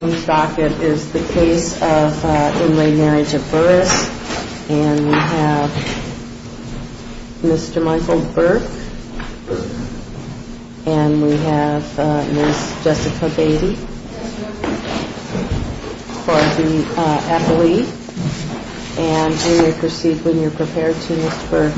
is the case of in re Marriage of Burris. And we have Mr. Michael Burke. And we have Ms. Jessica Beatty for the athlete. And you may proceed when you're prepared to Ms. Burke. Thank you. Thank you. Thank you. Well. Mm hmm.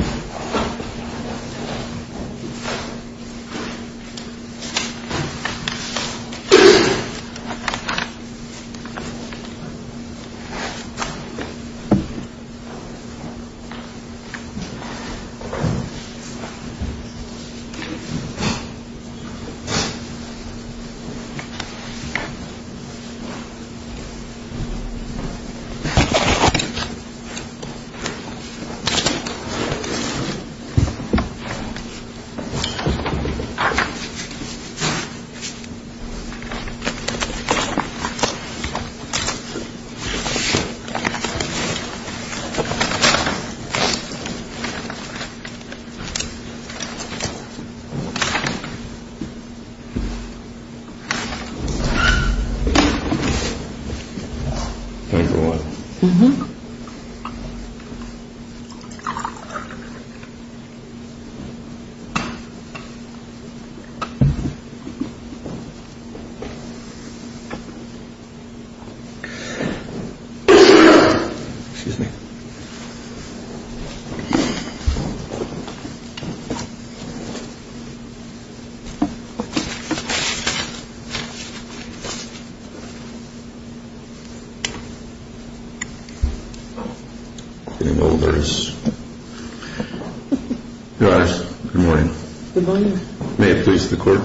Good morning. May it please the court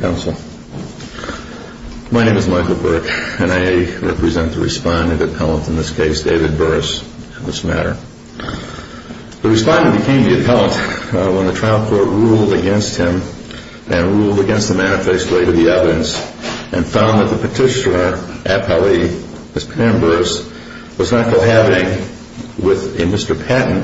counsel. My name is Michael Burke and I represent the respondent appellant in this case David Burris on this matter. The respondent became the appellant when the trial court ruled against him and ruled against the manifesto later the evidence and found that the petitioner appellee, Ms. Pam Burris, was not cohabiting with a Mr. Patton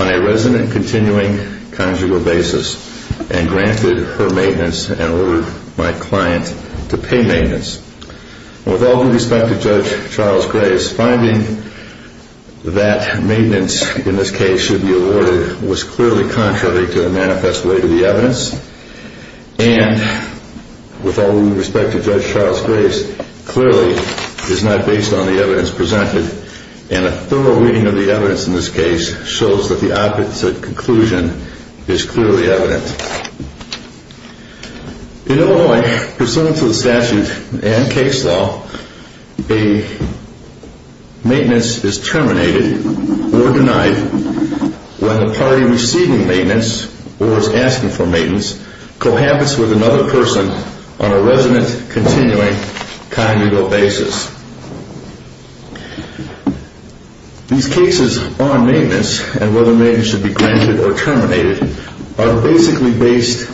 on a resident continuing conjugal basis and granted her maintenance and ordered my client to pay that maintenance in this case should be awarded was clearly contrary to the manifest way to the evidence and with all due respect to Judge Charles Grace clearly is not based on the evidence presented and a thorough reading of the evidence in this case shows that the opposite conclusion is clearly evident. In Illinois, pursuant to the statute and case law, a maintenance is terminated or denied when the party receiving maintenance or is asking for maintenance cohabits with another person on a resident based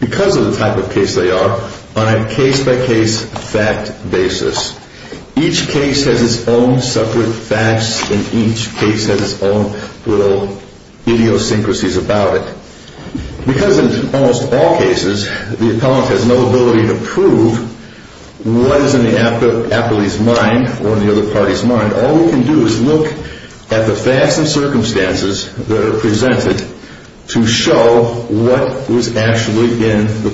because of the type of case they are on a case by case fact basis. Each case has its own separate facts and each case has its own little idiosyncrasies about it. Because in almost all cases, the appellant has no ability to prove what is in the appellee's mind or in the other party's mind. All we can do is look at the facts and circumstances that are presented to show what was actually in the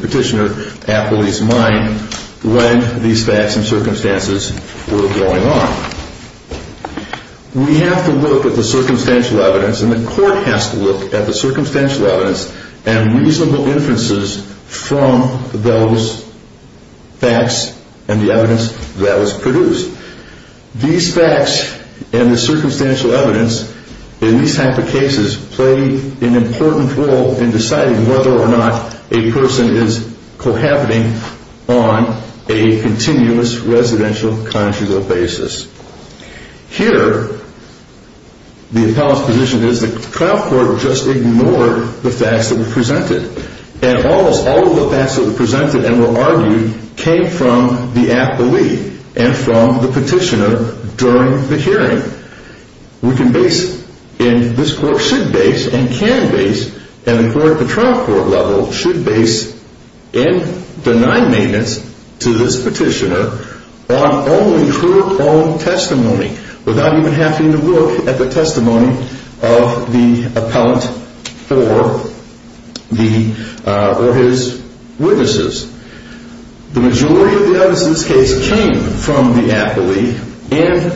petitioner appellee's mind when these facts and circumstances were going on. We have to look at the circumstantial evidence and the court has to look at the circumstantial evidence and reasonable inferences from those facts and the evidence that was produced. These facts and the circumstantial evidence in these types of cases play an important role in deciding whether or not a person is cohabiting on a continuous residential conjugal basis. Here, the appellant's position is that the trial court just ignored the facts that were presented and almost all of the facts that were presented and were argued came from the appellee and from the petitioner during the hearing. We can base, and this court should base and can base, and the court at the trial court level should base and deny maintenance to this petitioner on only her own testimony without even having to look at the testimony of the appellant or his witnesses. The majority of the evidence in this case came from the appellee and,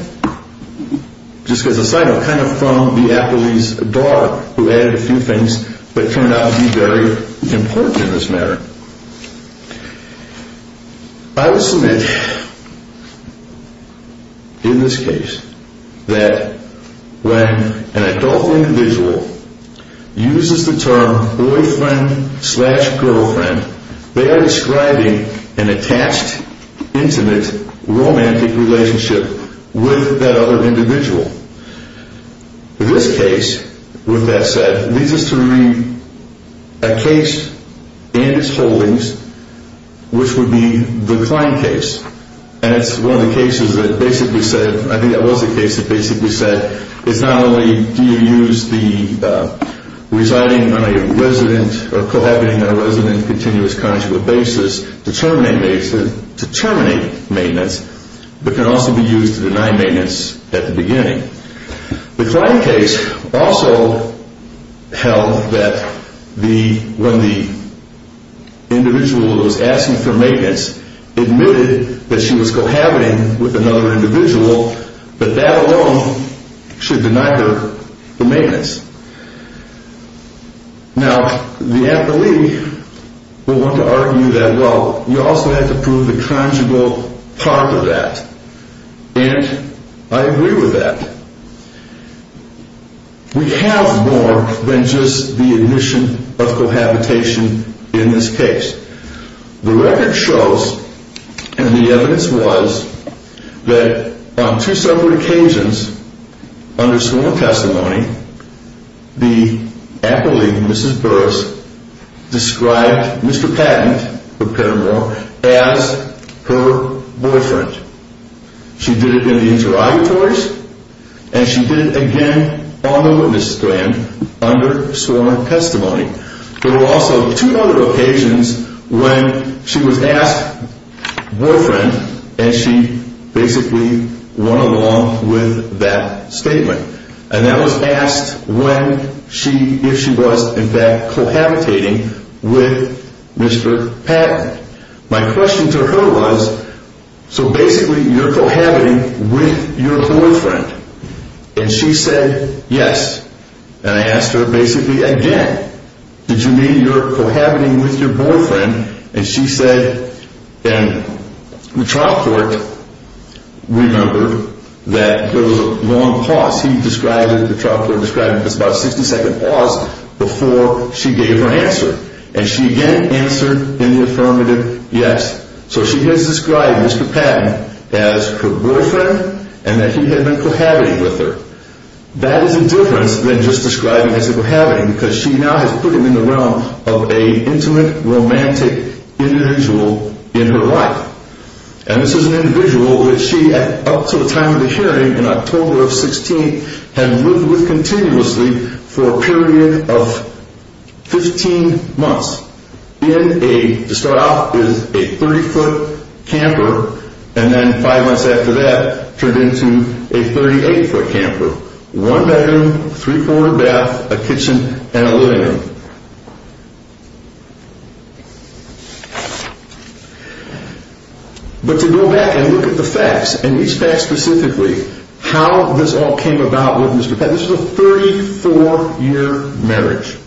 just as a side note, kind of from the appellee's daughter who added a few things that turned out to be very important in this matter. I will submit in this case that when an adult individual uses the term boyfriend slash girlfriend, they are describing an attached, intimate, romantic relationship with that other individual. This case, with that said, leads us to read a case and its holdings, which would be the Klein case, and it's one of the cases that basically said, I think that was the case that basically said, is not only do you use the residing on a resident or cohabiting on a resident continuous conjugal basis to terminate maintenance, but can also be used to deny maintenance at the beginning. The Klein case also held that when the individual was asking for maintenance, admitted that she was cohabiting with another individual, but that alone should deny her the maintenance. Now, the appellee will want to argue that, well, you also have to prove the conjugal part of that, and I agree with that. We have more than just the admission of cohabitation in this case. The record shows, and the evidence was, that on two separate occasions under sworn testimony, the appellee, Mrs. Burris, described Mr. Patton of Petermore as her boyfriend. She did it in the interrogatories, and she did it again on the witness stand under sworn testimony. There were also two other occasions when she was asked boyfriend, and she basically went along with that statement, and that was asked when she, if she was in fact cohabitating with Mr. Patton. My question to her was, so basically you're cohabiting with your boyfriend, and she said yes, and I asked her basically again, did you mean you're cohabiting with your boyfriend? And she said, and the trial court remembered that there was a long pause. He described it, the trial court described it as about a 60 second pause before she gave her answer. And she again answered in the affirmative, yes. So she has described Mr. Patton as her boyfriend, and that he had been cohabiting with her. That is a difference than just describing as cohabiting, because she now has put him in the realm of an intimate, romantic individual in her life. And this is an individual that she, up to the time of the hearing in October of 16, had lived with continuously for a period of 15 months. In a, to start off, is a 30 foot camper, and then five months after that, turned into a 38 foot camper. One bedroom, three quarter bath, a kitchen, and a living room. But to go back and look at the facts, and these facts specifically, how this all came about with Mr. Patton, this was a 34 year marriage.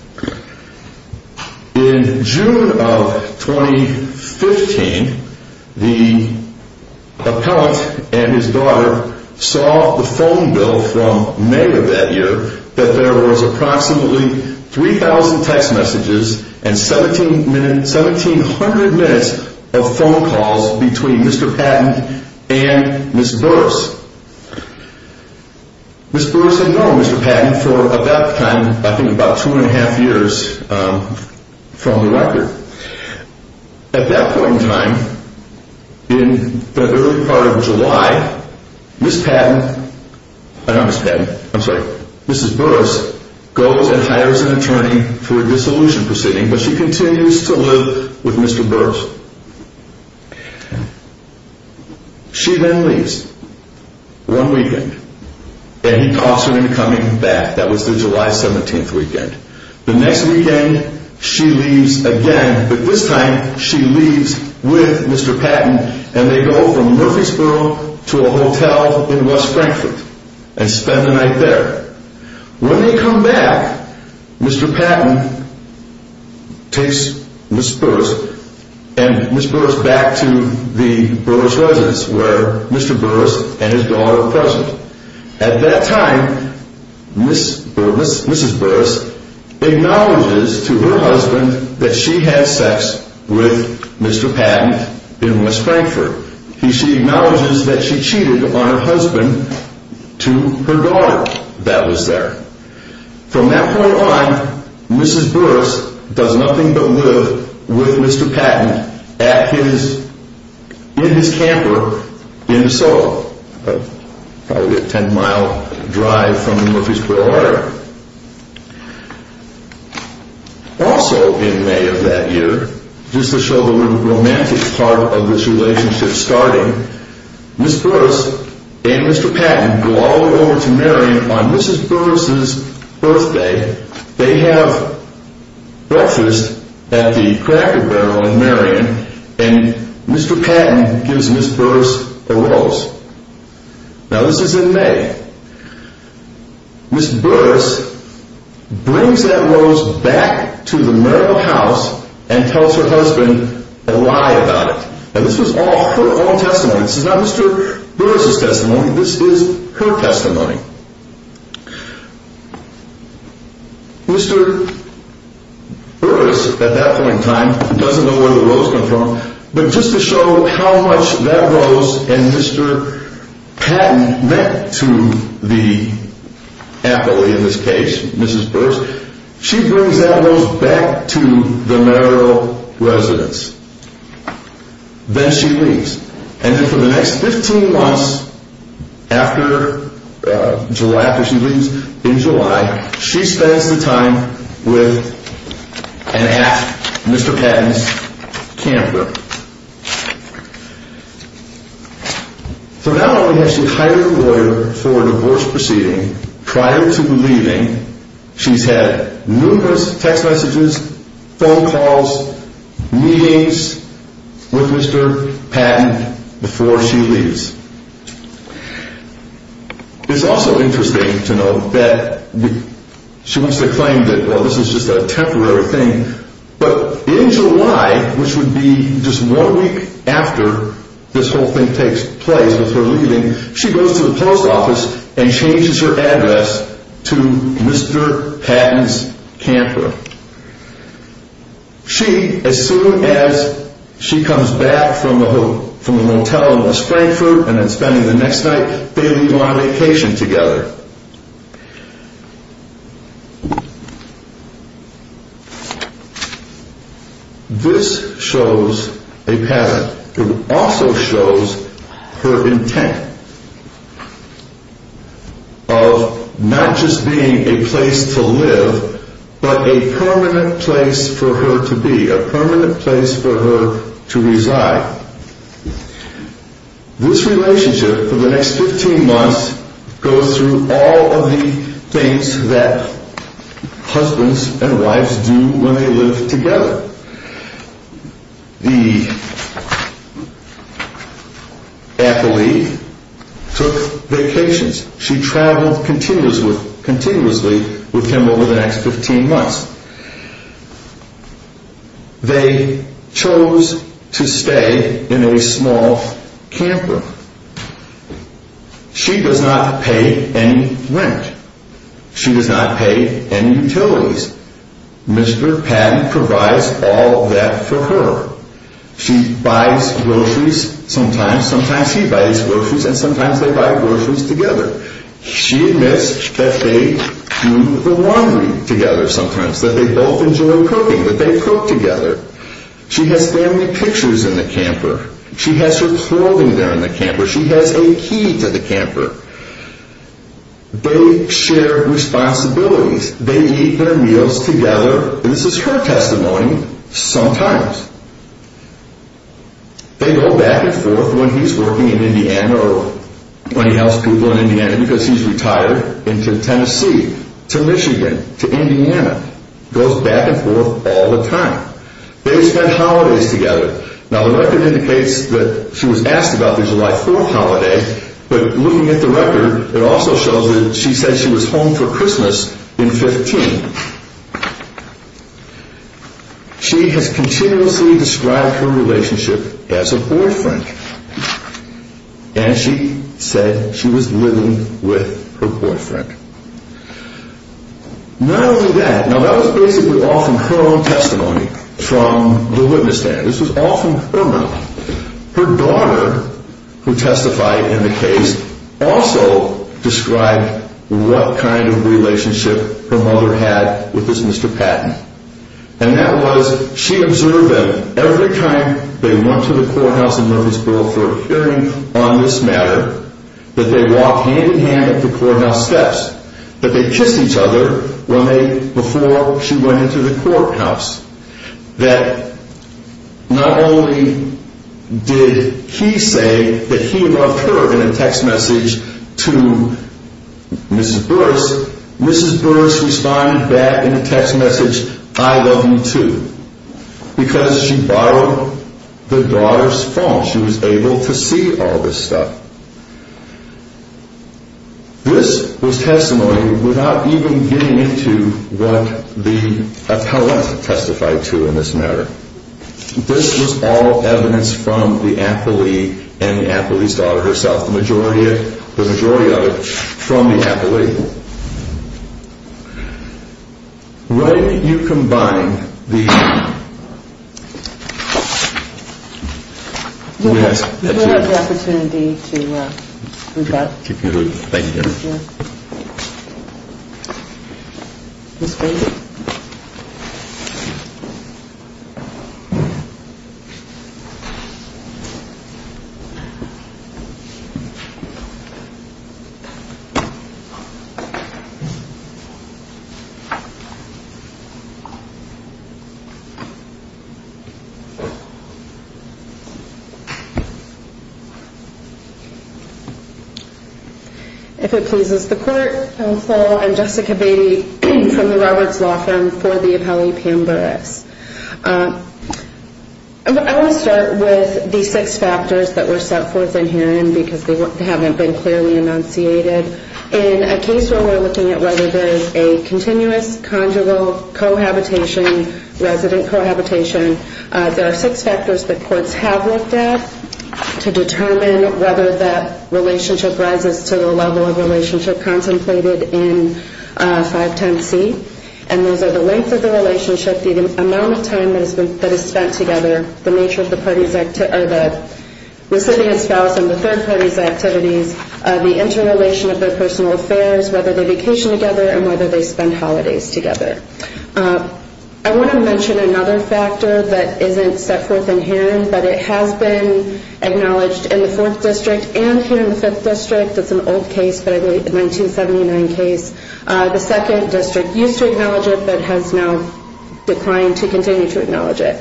In June of 2015, the appellant and his daughter saw the phone bill from May of that year, that there was approximately 3,000 text messages and 1,700 minutes of phone calls between Mr. Patton and Ms. Burris. Ms. Burris had known Mr. Patton for about the time, I think about two and a half years from the record. At that point in time, in the early part of July, Ms. Burris goes and hires an attorney for a dissolution proceeding, but she continues to live with Mr. Burris. She then leaves, one weekend, and he cautioned her in coming back, that was the July 17th weekend. The next weekend, she leaves again, but this time, she leaves with Mr. Patton, and they go from Murfreesboro to a hotel in West Frankfort, and spend the night there. When they come back, Mr. Patton takes Ms. Burris, and Ms. Burris back to the Burris residence, where Mr. Burris and his daughter are present. At that time, Ms. Burris acknowledges to her husband that she had sex with Mr. Patton in West Frankfort. She acknowledges that she cheated on her husband to her daughter that was there. From that point on, Ms. Burris does nothing but live with Mr. Patton in his camper in DeSoto, probably a ten mile drive from Murfreesboro, Oregon. Also in May of that year, just to show the romantic part of this relationship starting, Ms. Burris and Mr. Patton go all the way over to Marion on Ms. Burris' birthday. They have breakfast at the Cracker Barrel in Marion, and Mr. Patton gives Ms. Burris a rose. Now this is in May. Ms. Burris brings that rose back to the Merrill house, and tells her husband a lie about it. Now this was all her own testimony, this is not Mr. Burris' testimony, this is her testimony. Mr. Burris, at that point in time, doesn't know where the rose comes from, but just to show how much that rose and Mr. Patton meant to the affilee in this case, Ms. Burris, she brings that rose back to the Merrill residence. Then she leaves, and for the next 15 months, after she leaves in July, she spends the time with and at Mr. Patton's camper. So now when she has to hire a lawyer for a divorce proceeding, prior to leaving, she's had numerous text messages, phone calls, meetings with Mr. Patton before she leaves. It's also interesting to note that she wants to claim that this is just a temporary thing, but in July, which would be just one week after this whole thing takes place with her leaving, she goes to the post office and changes her address to Mr. Patton's camper. She, as soon as she comes back from the motel in Springford, and then spending the next night, they leave on a vacation together. This shows a pattern. It also shows her intent of not just being a place to live, but a permanent place for her to be, a permanent place for her to reside. This relationship, for the next 15 months, goes through all of the things that husbands and wives do when they live together. The affilee took vacations. She traveled continuously with him over the next 15 months. They chose to stay in a small camper. She does not pay any rent. She does not pay any utilities. Mr. Patton provides all of that for her. She buys groceries sometimes. Sometimes he buys groceries, and sometimes they buy groceries together. She admits that they do the laundry together sometimes, that they both enjoy cooking, that they cook together. She has family pictures in the camper. She has her clothing there in the camper. She has a key to the camper. They share responsibilities. They eat their meals together, and this is her testimony, sometimes. They go back and forth when he's working in Indiana, or when he helps people in Indiana, because he's retired, into Tennessee, to Michigan, to Indiana. It goes back and forth all the time. They spend holidays together. Now, the record indicates that she was asked about the July 4th holiday, but looking at the record, it also shows that she said she was home for Christmas in 15. She has continuously described her relationship as a boyfriend, and she said she was living with her boyfriend. Not only that, now that was basically all from her own testimony, from the witness stand. This was all from her mouth. Her daughter, who testified in the case, also described what kind of relationship her mother had with this Mr. Patton. And that was, she observed them every time they went to the courthouse in Murfreesboro for a hearing on this matter, that they walked hand-in-hand up the courthouse steps, that they kissed each other before she went into the courthouse. That not only did he say that he loved her in a text message to Mrs. Burris, Mrs. Burris responded back in a text message, I love you too. Because she borrowed the daughter's phone, she was able to see all this stuff. This was testimony without even getting into what the appellant testified to in this matter. This was all evidence from the athlete and the athlete's daughter herself, the majority of it from the athlete. Why don't you combine the... We'll have the opportunity to do that. Ms. Brady? If it pleases the court, counsel, I'm Jessica Brady from the Roberts Law Firm for the appellee Pam Burris. I want to start with the six factors that were set forth in hearing because they haven't been clearly enunciated. In a case where we're looking at whether there is a continuous conjugal cohabitation, resident cohabitation, there are six factors that courts have looked at to determine whether that relationship rises to the level of relationship contemplated in 510C. And those are the length of the relationship, the amount of time that is spent together, the nature of the recipient's spouse and the third party's activities, the interrelation of their personal affairs, whether they vacation together and whether they spend holidays together. I want to mention another factor that isn't set forth in hearing, but it has been acknowledged in the 4th District and here in the 5th District. It's an old case, but a 1979 case. The 2nd District used to acknowledge it, but has now declined to continue to acknowledge it.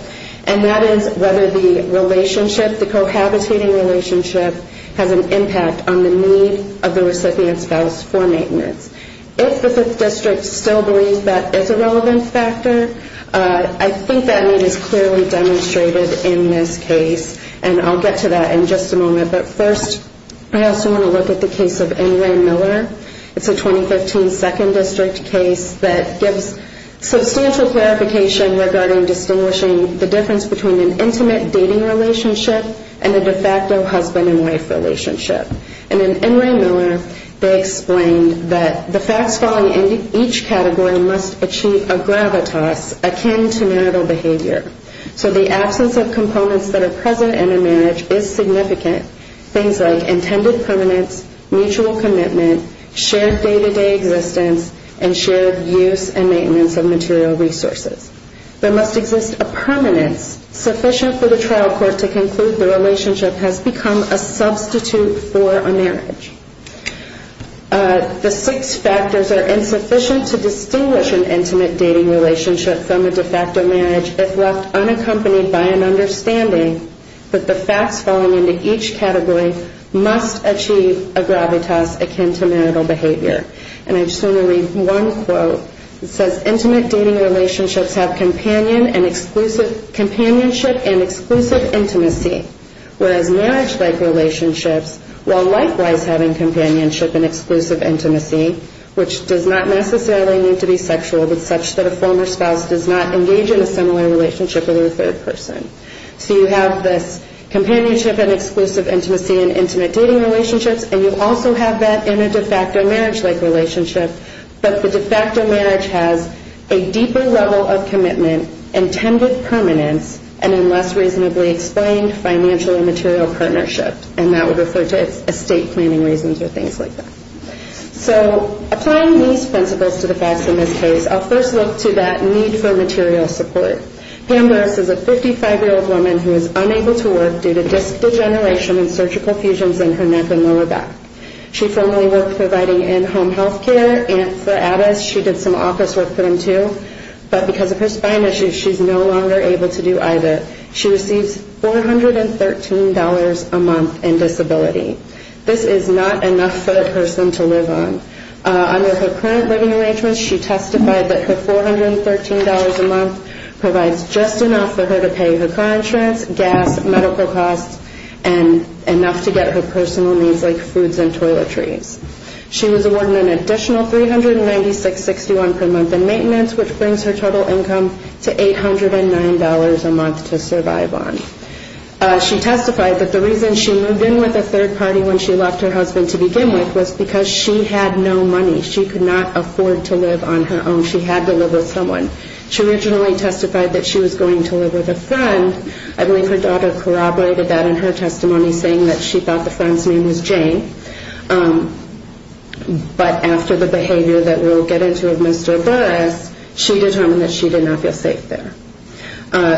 And that is whether the relationship, the cohabitating relationship, has an impact on the need of the recipient's spouse for maintenance. If the 5th District still believes that is a relevant factor, I think that need is clearly demonstrated in this case. And I'll get to that in just a moment. But first, I also want to look at the case of Ingram Miller. It's a 2015 2nd District case that gives substantial clarification regarding distinguishing the difference between an intimate dating relationship and a de facto husband and wife relationship. And in Ingram Miller, they explained that the facts falling into each category must achieve a gravitas akin to marital behavior. So the absence of components that are present in a marriage is significant. Things like intended permanence, mutual commitment, shared day-to-day existence, and shared use and maintenance of material resources. There must exist a permanence sufficient for the trial court to conclude the relationship has become a substitute for a marriage. The six factors are insufficient to distinguish an intimate dating relationship from a de facto marriage if left unaccompanied by an understanding that the facts falling into each category must achieve a gravitas akin to marital behavior. And I just want to read one quote. It says, intimate dating relationships have companionship and exclusive intimacy. Whereas marriage-like relationships, while likewise having companionship and exclusive intimacy, which does not necessarily need to be sexual, but such that a former spouse does not engage in a similar relationship with a third person. So you have this companionship and exclusive intimacy in intimate dating relationships, and you also have that in a de facto marriage-like relationship, but the de facto marriage has a deeper level of commitment, intended permanence, and a less reasonably explained financial and material partnership. And that would refer to estate planning reasons or things like that. So applying these principles to the facts in this case, I'll first look to that need for material support. Pam Larris is a 55-year-old woman who is unable to work due to disc degeneration and surgical fusions in her neck and lower back. She formerly worked providing in-home health care. And for Addis, she did some office work for them, too. But because of her spine issues, she's no longer able to do either. She receives $413 a month in disability. This is not enough for a person to live on. Under her current living arrangements, she testified that her $413 a month provides just enough for her to pay her car insurance, gas, medical costs, and enough to get her personal needs like foods and toiletries. She was awarded an additional $396.61 per month in maintenance, which brings her total income to $809 a month to survive on. She testified that the reason she moved in with a third party when she left her husband to begin with was because she had no money. She could not afford to live on her own. She had to live with someone. She originally testified that she was going to live with a friend. I believe her daughter corroborated that in her testimony, saying that she thought the friend's name was Jane. But after the behavior that we'll get into of Mr. Burris, she determined that she did not feel safe there.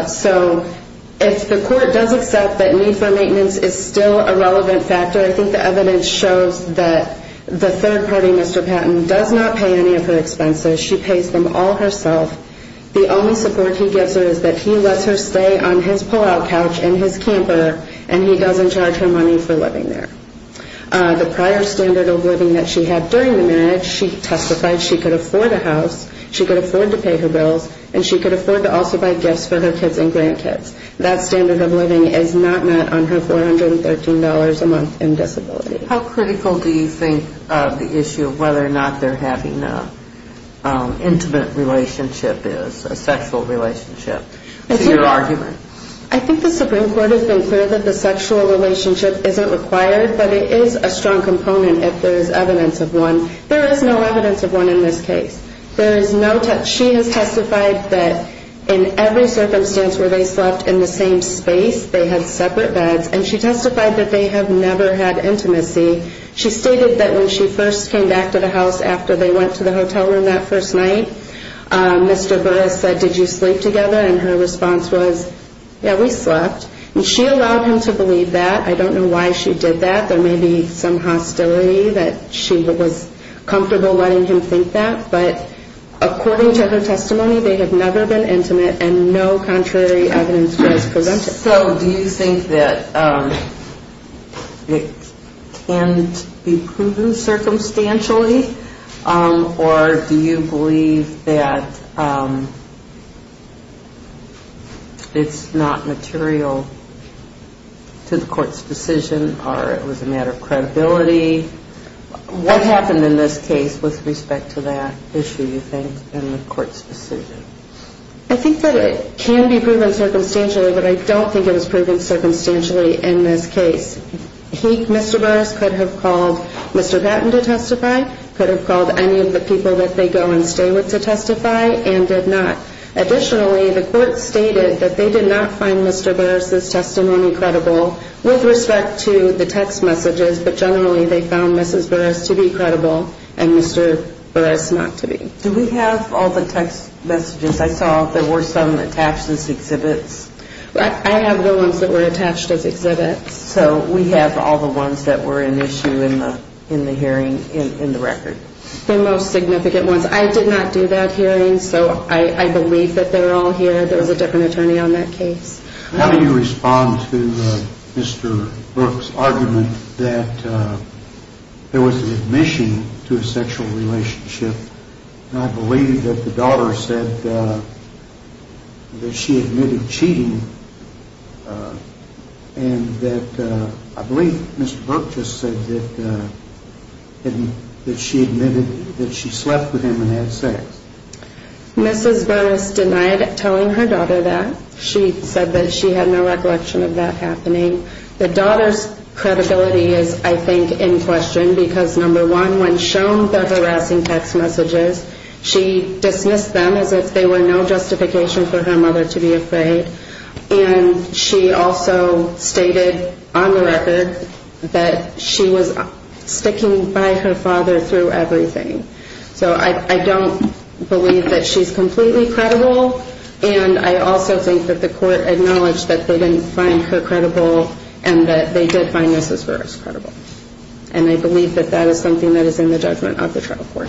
So if the court does accept that need for maintenance is still a relevant factor, I think the evidence shows that the third party, Mr. Patton, does not pay any of her expenses. She pays them all herself. The only support he gives her is that he lets her stay on his pull-out couch in his camper, and he doesn't charge her money for living there. The prior standard of living that she had during the marriage, she testified she could afford a house, she could afford to pay her bills, and she could afford to also buy gifts for her kids and grandkids. That standard of living is not met on her $413 a month in disability. How critical do you think the issue of whether or not they're having an intimate relationship is, a sexual relationship, to your argument? I think the Supreme Court has been clear that the sexual relationship isn't required, but it is a strong component if there is evidence of one. There is no evidence of one in this case. She has testified that in every circumstance where they slept in the same space, they had separate beds, and she testified that they have never had intimacy. She stated that when she first came back to the house after they went to the hotel room that first night, Mr. Burris said, did you sleep together? And her response was, yeah, we slept. And she allowed him to believe that. I don't know why she did that. There may be some hostility that she was comfortable letting him think that. But according to her testimony, they had never been intimate, and no contrary evidence was presented. So do you think that it can be proven circumstantially, or do you believe that it's not material to the court's decision, or it was a matter of credibility? What happened in this case with respect to that issue, you think, in the court's decision? I think that it can be proven circumstantially, but I don't think it was proven circumstantially in this case. Mr. Burris could have called Mr. Gatton to testify, could have called any of the people that they go and stay with to testify, and did not. Additionally, the court stated that they did not find Mr. Burris's testimony credible with respect to the text messages, but generally they found Mrs. Burris to be credible and Mr. Burris not to be. Do we have all the text messages? I saw there were some attached as exhibits. I have the ones that were attached as exhibits. So we have all the ones that were an issue in the hearing, in the record? The most significant ones. I did not do that hearing, so I believe that they're all here. There was a different attorney on that case. How do you respond to Mr. Brooks' argument that there was an admission to a sexual relationship, and I believe that the daughter said that she admitted cheating, and that I believe Mr. Brooks just said that she slept with him and had sex. Mrs. Burris denied telling her daughter that. She said that she had no recollection of that happening. The daughter's credibility is, I think, in question because, number one, when shown the harassing text messages, she dismissed them as if they were no justification for her mother to be afraid, and she also stated on the record that she was sticking by her father through everything. So I don't believe that she's completely credible, and I also think that the court acknowledged that they didn't find her credible, and that they did find Mrs. Burris credible, and I believe that that is something that is in the judgment of the trial court.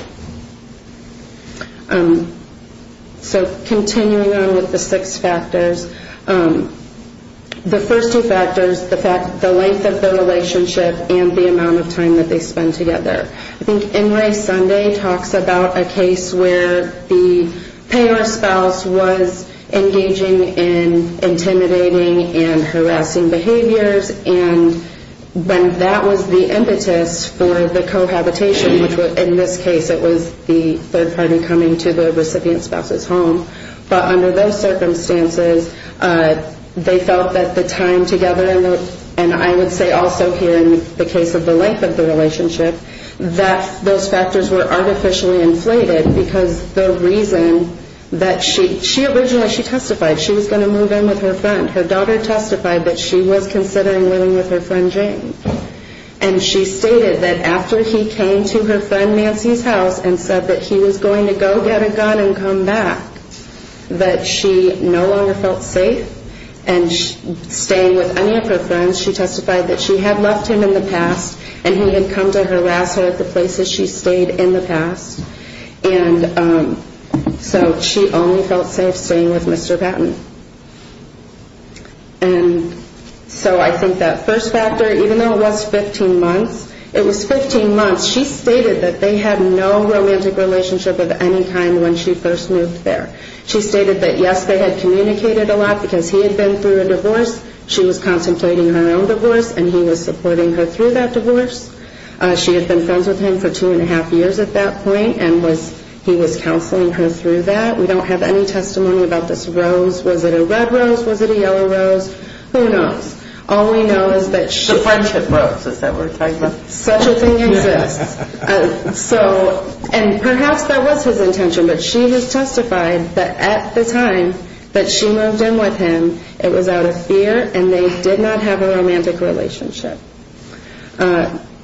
So continuing on with the six factors, the first two factors, the length of the relationship and the amount of time that they spend together. I think NRA Sunday talks about a case where the payer spouse was engaging in intimidating and harassing behaviors, and that was the impetus for the cohabitation, which in this case it was the third party coming to the recipient spouse's home. But under those circumstances, they felt that the time together, and I would say also here in the case of the length of the relationship, that those factors were artificially inflated because the reason that she, originally she testified she was going to move in with her friend. Her daughter testified that she was considering living with her friend Jane, and she stated that after he came to her friend Nancy's house and said that he was going to go get a gun and come back, that she no longer felt safe, and staying with any of her friends, she testified that she had left him in the past, and he had come to harass her at the places she stayed in the past, and so she only felt safe staying with Mr. Patton. And so I think that first factor, even though it was 15 months, it was 15 months, she stated that they had no romantic relationship of any kind when she first moved there. She stated that yes, they had communicated a lot because he had been through a divorce, she was contemplating her own divorce, and he was supporting her through that divorce. She had been friends with him for two and a half years at that point, and he was counseling her through that. We don't have any testimony about this rose. Was it a red rose? Was it a yellow rose? Who knows? All we know is that she... The friendship rose, is that what we're talking about? Such a thing exists. And perhaps that was his intention, but she has testified that at the time that she moved in with him, it was out of fear, and they did not have a romantic relationship.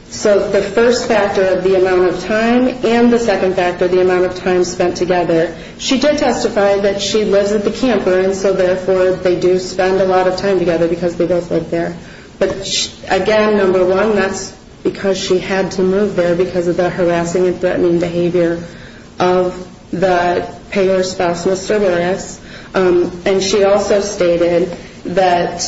So the first factor of the amount of time, and the second factor, the amount of time spent together. She did testify that she lives at the camper, and so therefore they do spend a lot of time together because they both live there. But again, number one, that's because she had to move there because of the harassing and threatening behavior of the payer's spouse, Mr. Veras. And she also stated that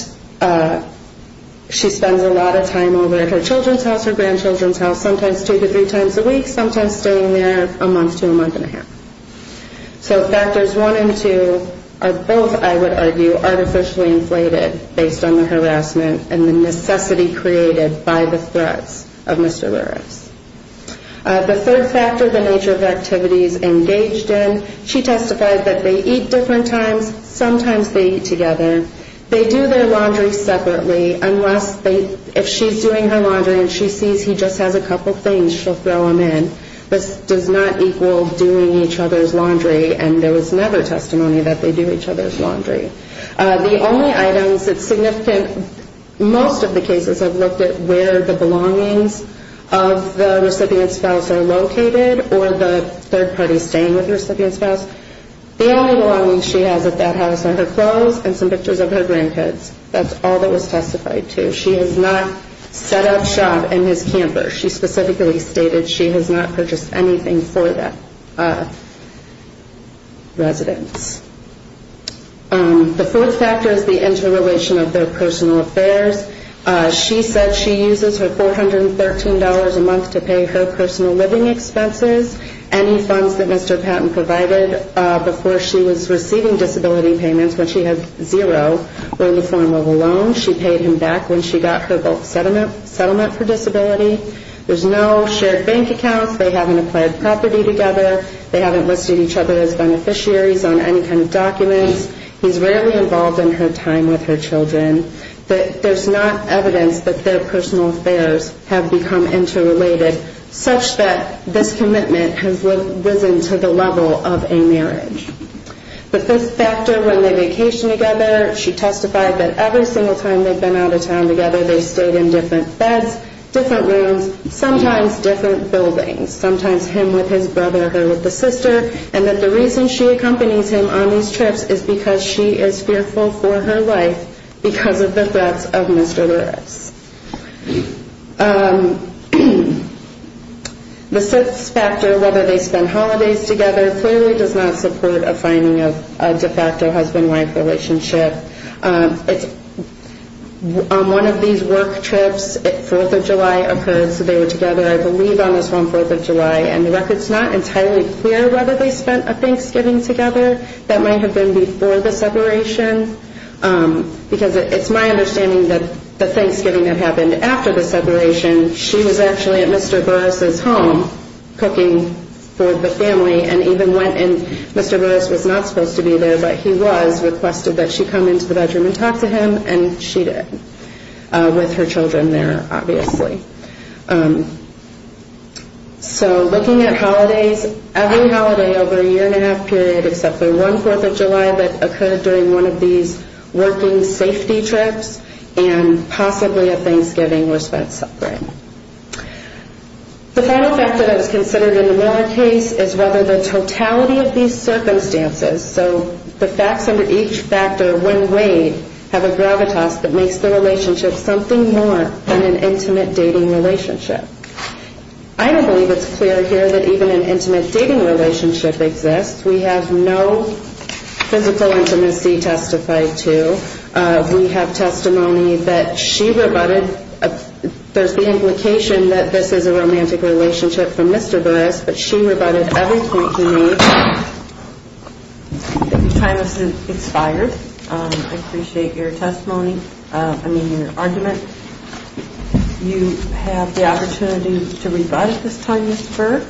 she spends a lot of time over at her children's house, her grandchildren's house, sometimes two to three times a week, sometimes staying there a month to a month and a half. So factors one and two are both, I would argue, artificially inflated based on the harassment and the necessity created by the threats of Mr. Veras. The third factor, the nature of the activities engaged in. She testified that they eat different times. Sometimes they eat together. They do their laundry separately unless if she's doing her laundry and she sees he just has a couple things, she'll throw them in. This does not equal doing each other's laundry, and there was never testimony that they do each other's laundry. The only items that significant, most of the cases I've looked at where the belongings of the recipient's spouse are located or the third party staying with the recipient's spouse. The only belongings she has at that house are her clothes and some pictures of her grandkids. That's all that was testified to. She has not set up shop in his camper. She specifically stated she has not purchased anything for that residence. The fourth factor is the interrelation of their personal affairs. She said she uses her $413 a month to pay her personal living expenses. Any funds that Mr. Patton provided before she was receiving disability payments when she had zero were in the form of a loan. She paid him back when she got her settlement for disability. There's no shared bank accounts. They haven't applied property together. They haven't listed each other as beneficiaries on any kind of documents. He's rarely involved in her time with her children. There's not evidence that their personal affairs have become interrelated such that this commitment has risen to the level of a marriage. The fifth factor, when they vacation together, she testified that every single time they've been out of town together they've stayed in different beds, different rooms, sometimes different buildings, sometimes him with his brother, her with the sister, and that the reason she accompanies him on these trips is because she is fearful for her life because of the threats of Mr. Lewis. The sixth factor, whether they spend holidays together, clearly does not support a finding of a de facto husband-wife relationship. On one of these work trips, 4th of July occurred, so they were together, I believe, on this one, 4th of July, and the record's not entirely clear whether they spent a Thanksgiving together. That might have been before the separation because it's my understanding that the Thanksgiving that happened after the separation, she was actually at Mr. Burris' home cooking for the family and even went and Mr. Burris was not supposed to be there, but he was, requested that she come into the bedroom and talk to him, and she did, with her children there, obviously. So looking at holidays, every holiday over a year and a half period except for one 4th of July that occurred during one of these working safety trips and possibly a Thanksgiving were spent separate. The final factor that is considered in the Moore case is whether the totality of these circumstances, so the facts under each factor when weighed, have a gravitas that makes the relationship something more than an intimate dating relationship. I don't believe it's clear here that even an intimate dating relationship exists. We have no physical intimacy testified to. We have testimony that she rebutted, there's the implication that this is a romantic relationship for Mr. Burris, but she rebutted every point she made. Time has expired. I appreciate your testimony, I mean your argument. You have the opportunity to rebut at this time, Ms. Berg.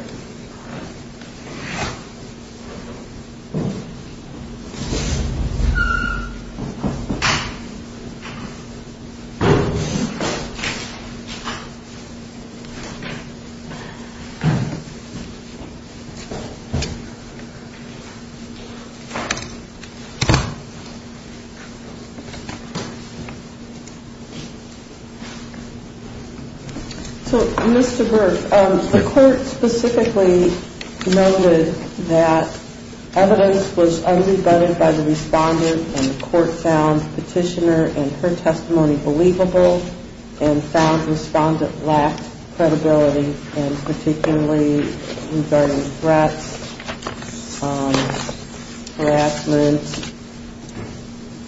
Ms. Berg. The court specifically noted that evidence was unrebutted by the respondent and the court found the petitioner and her testimony believable and found the respondent lacked credibility and particularly regarding threats, harassment,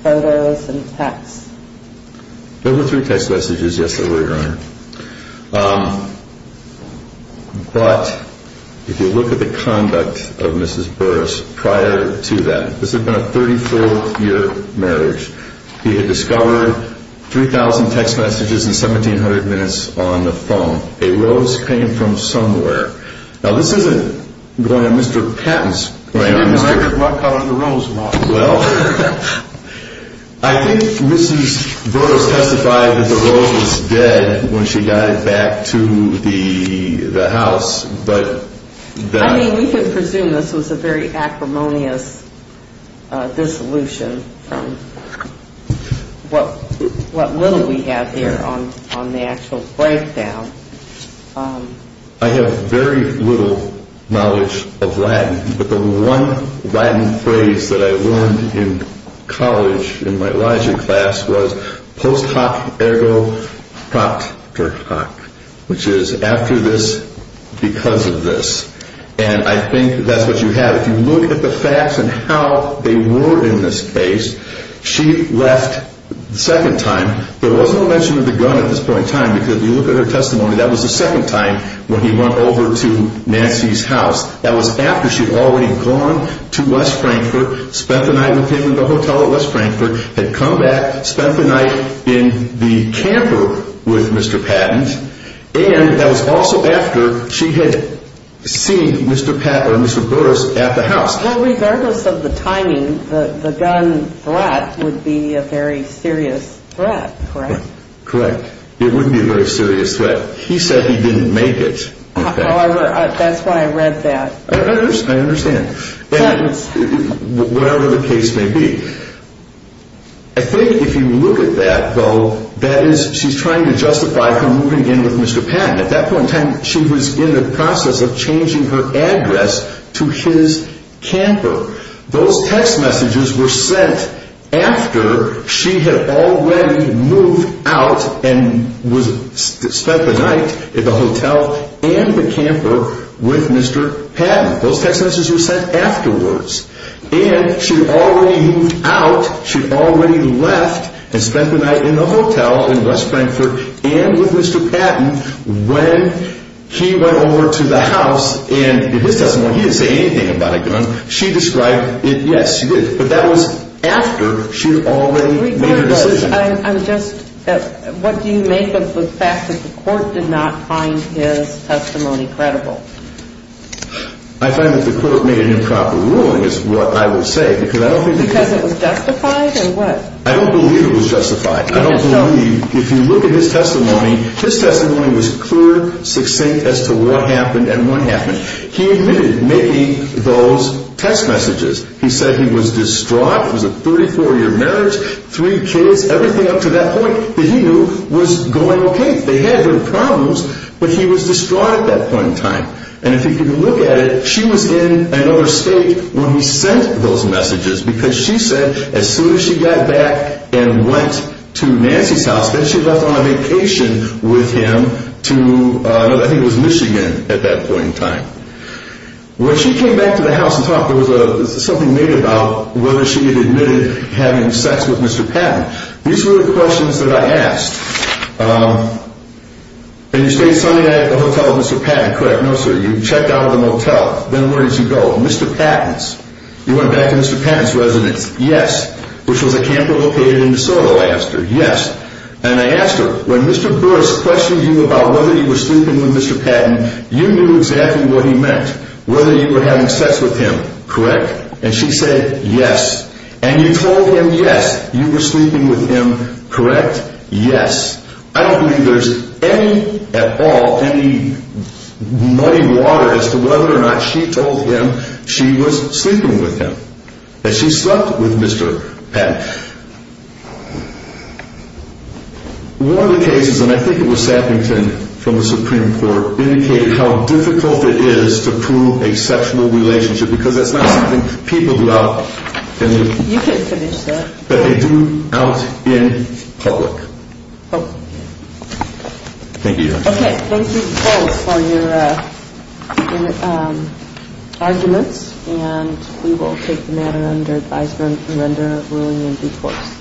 photos, and texts. There were three text messages, yes, there were, Your Honor. But if you look at the conduct of Mrs. Burris prior to that, this had been a 34-year marriage. He had discovered 3,000 text messages in 1,700 minutes on the phone. A rose came from somewhere. Now this isn't going on Mr. Patton's brain. I got caught on the rose a lot. Well, I think Mrs. Burris testified that the rose was dead when she got it back to the house. I mean we can presume this was a very acrimonious dissolution from what little we have here on the actual breakdown. But the one Latin phrase that I learned in college in my Elijah class was post hoc ergo proctor hoc, which is after this, because of this. And I think that's what you have. If you look at the facts and how they were in this case, she left the second time. There wasn't a mention of the gun at this point in time because if you look at her testimony, that was the second time when he went over to Nancy's house. That was after she had already gone to West Frankfurt, spent the night with him in the hotel at West Frankfurt, had come back, spent the night in the camper with Mr. Patton, and that was also after she had seen Mr. Burris at the house. Well, regardless of the timing, the gun threat would be a very serious threat, correct? Correct. It wouldn't be a very serious threat. He said he didn't make it. That's why I read that. I understand. Whatever the case may be. I think if you look at that, though, that is she's trying to justify her moving in with Mr. Patton. At that point in time, she was in the process of changing her address to his camper. Those text messages were sent after she had already moved out and spent the night at the hotel and the camper with Mr. Patton. Those text messages were sent afterwards. And she had already moved out, she had already left and spent the night in the hotel in West Frankfurt and with Mr. Patton when he went over to the house. And in his testimony, he didn't say anything about a gun. She described it, yes, she did. But that was after she had already made a decision. Regardless, I'm just, what do you make of the fact that the court did not find his testimony credible? I find that the court made an improper ruling is what I would say. Because it was justified or what? I don't believe it was justified. I don't believe, if you look at his testimony, his testimony was clear, succinct as to what happened and what happened. He admitted making those text messages. He said he was distraught. It was a 34-year marriage, three kids, everything up to that point that he knew was going okay. They had their problems, but he was distraught at that point in time. And if you can look at it, she was in another state when he sent those messages. Because she said as soon as she got back and went to Nancy's house, then she left on a vacation with him to, I think it was Michigan at that point in time. When she came back to the house and talked, there was something made about whether she had admitted having sex with Mr. Patton. These were the questions that I asked. And you stayed Sunday night at the hotel with Mr. Patton, correct? No, sir. You checked out of the motel. Then where did you go? Mr. Patton's. You went back to Mr. Patton's residence. Yes. Which was a camper located in DeSoto, I asked her. Yes. And I asked her, when Mr. Burris questioned you about whether you were sleeping with Mr. Patton, you knew exactly what he meant, whether you were having sex with him, correct? And she said yes. And you told him yes, you were sleeping with him, correct? Yes. I don't believe there's any at all, any muddy water as to whether or not she told him she was sleeping with him, that she slept with Mr. Patton. One of the cases, and I think it was Sappington from the Supreme Court, indicated how difficult it is to prove a sexual relationship because that's not something people do out in the- You can finish that. But they do out in public. Oh. Thank you, Your Honor. Okay. Thank you both for your arguments. And we will take the matter under advisement and render a ruling in due course.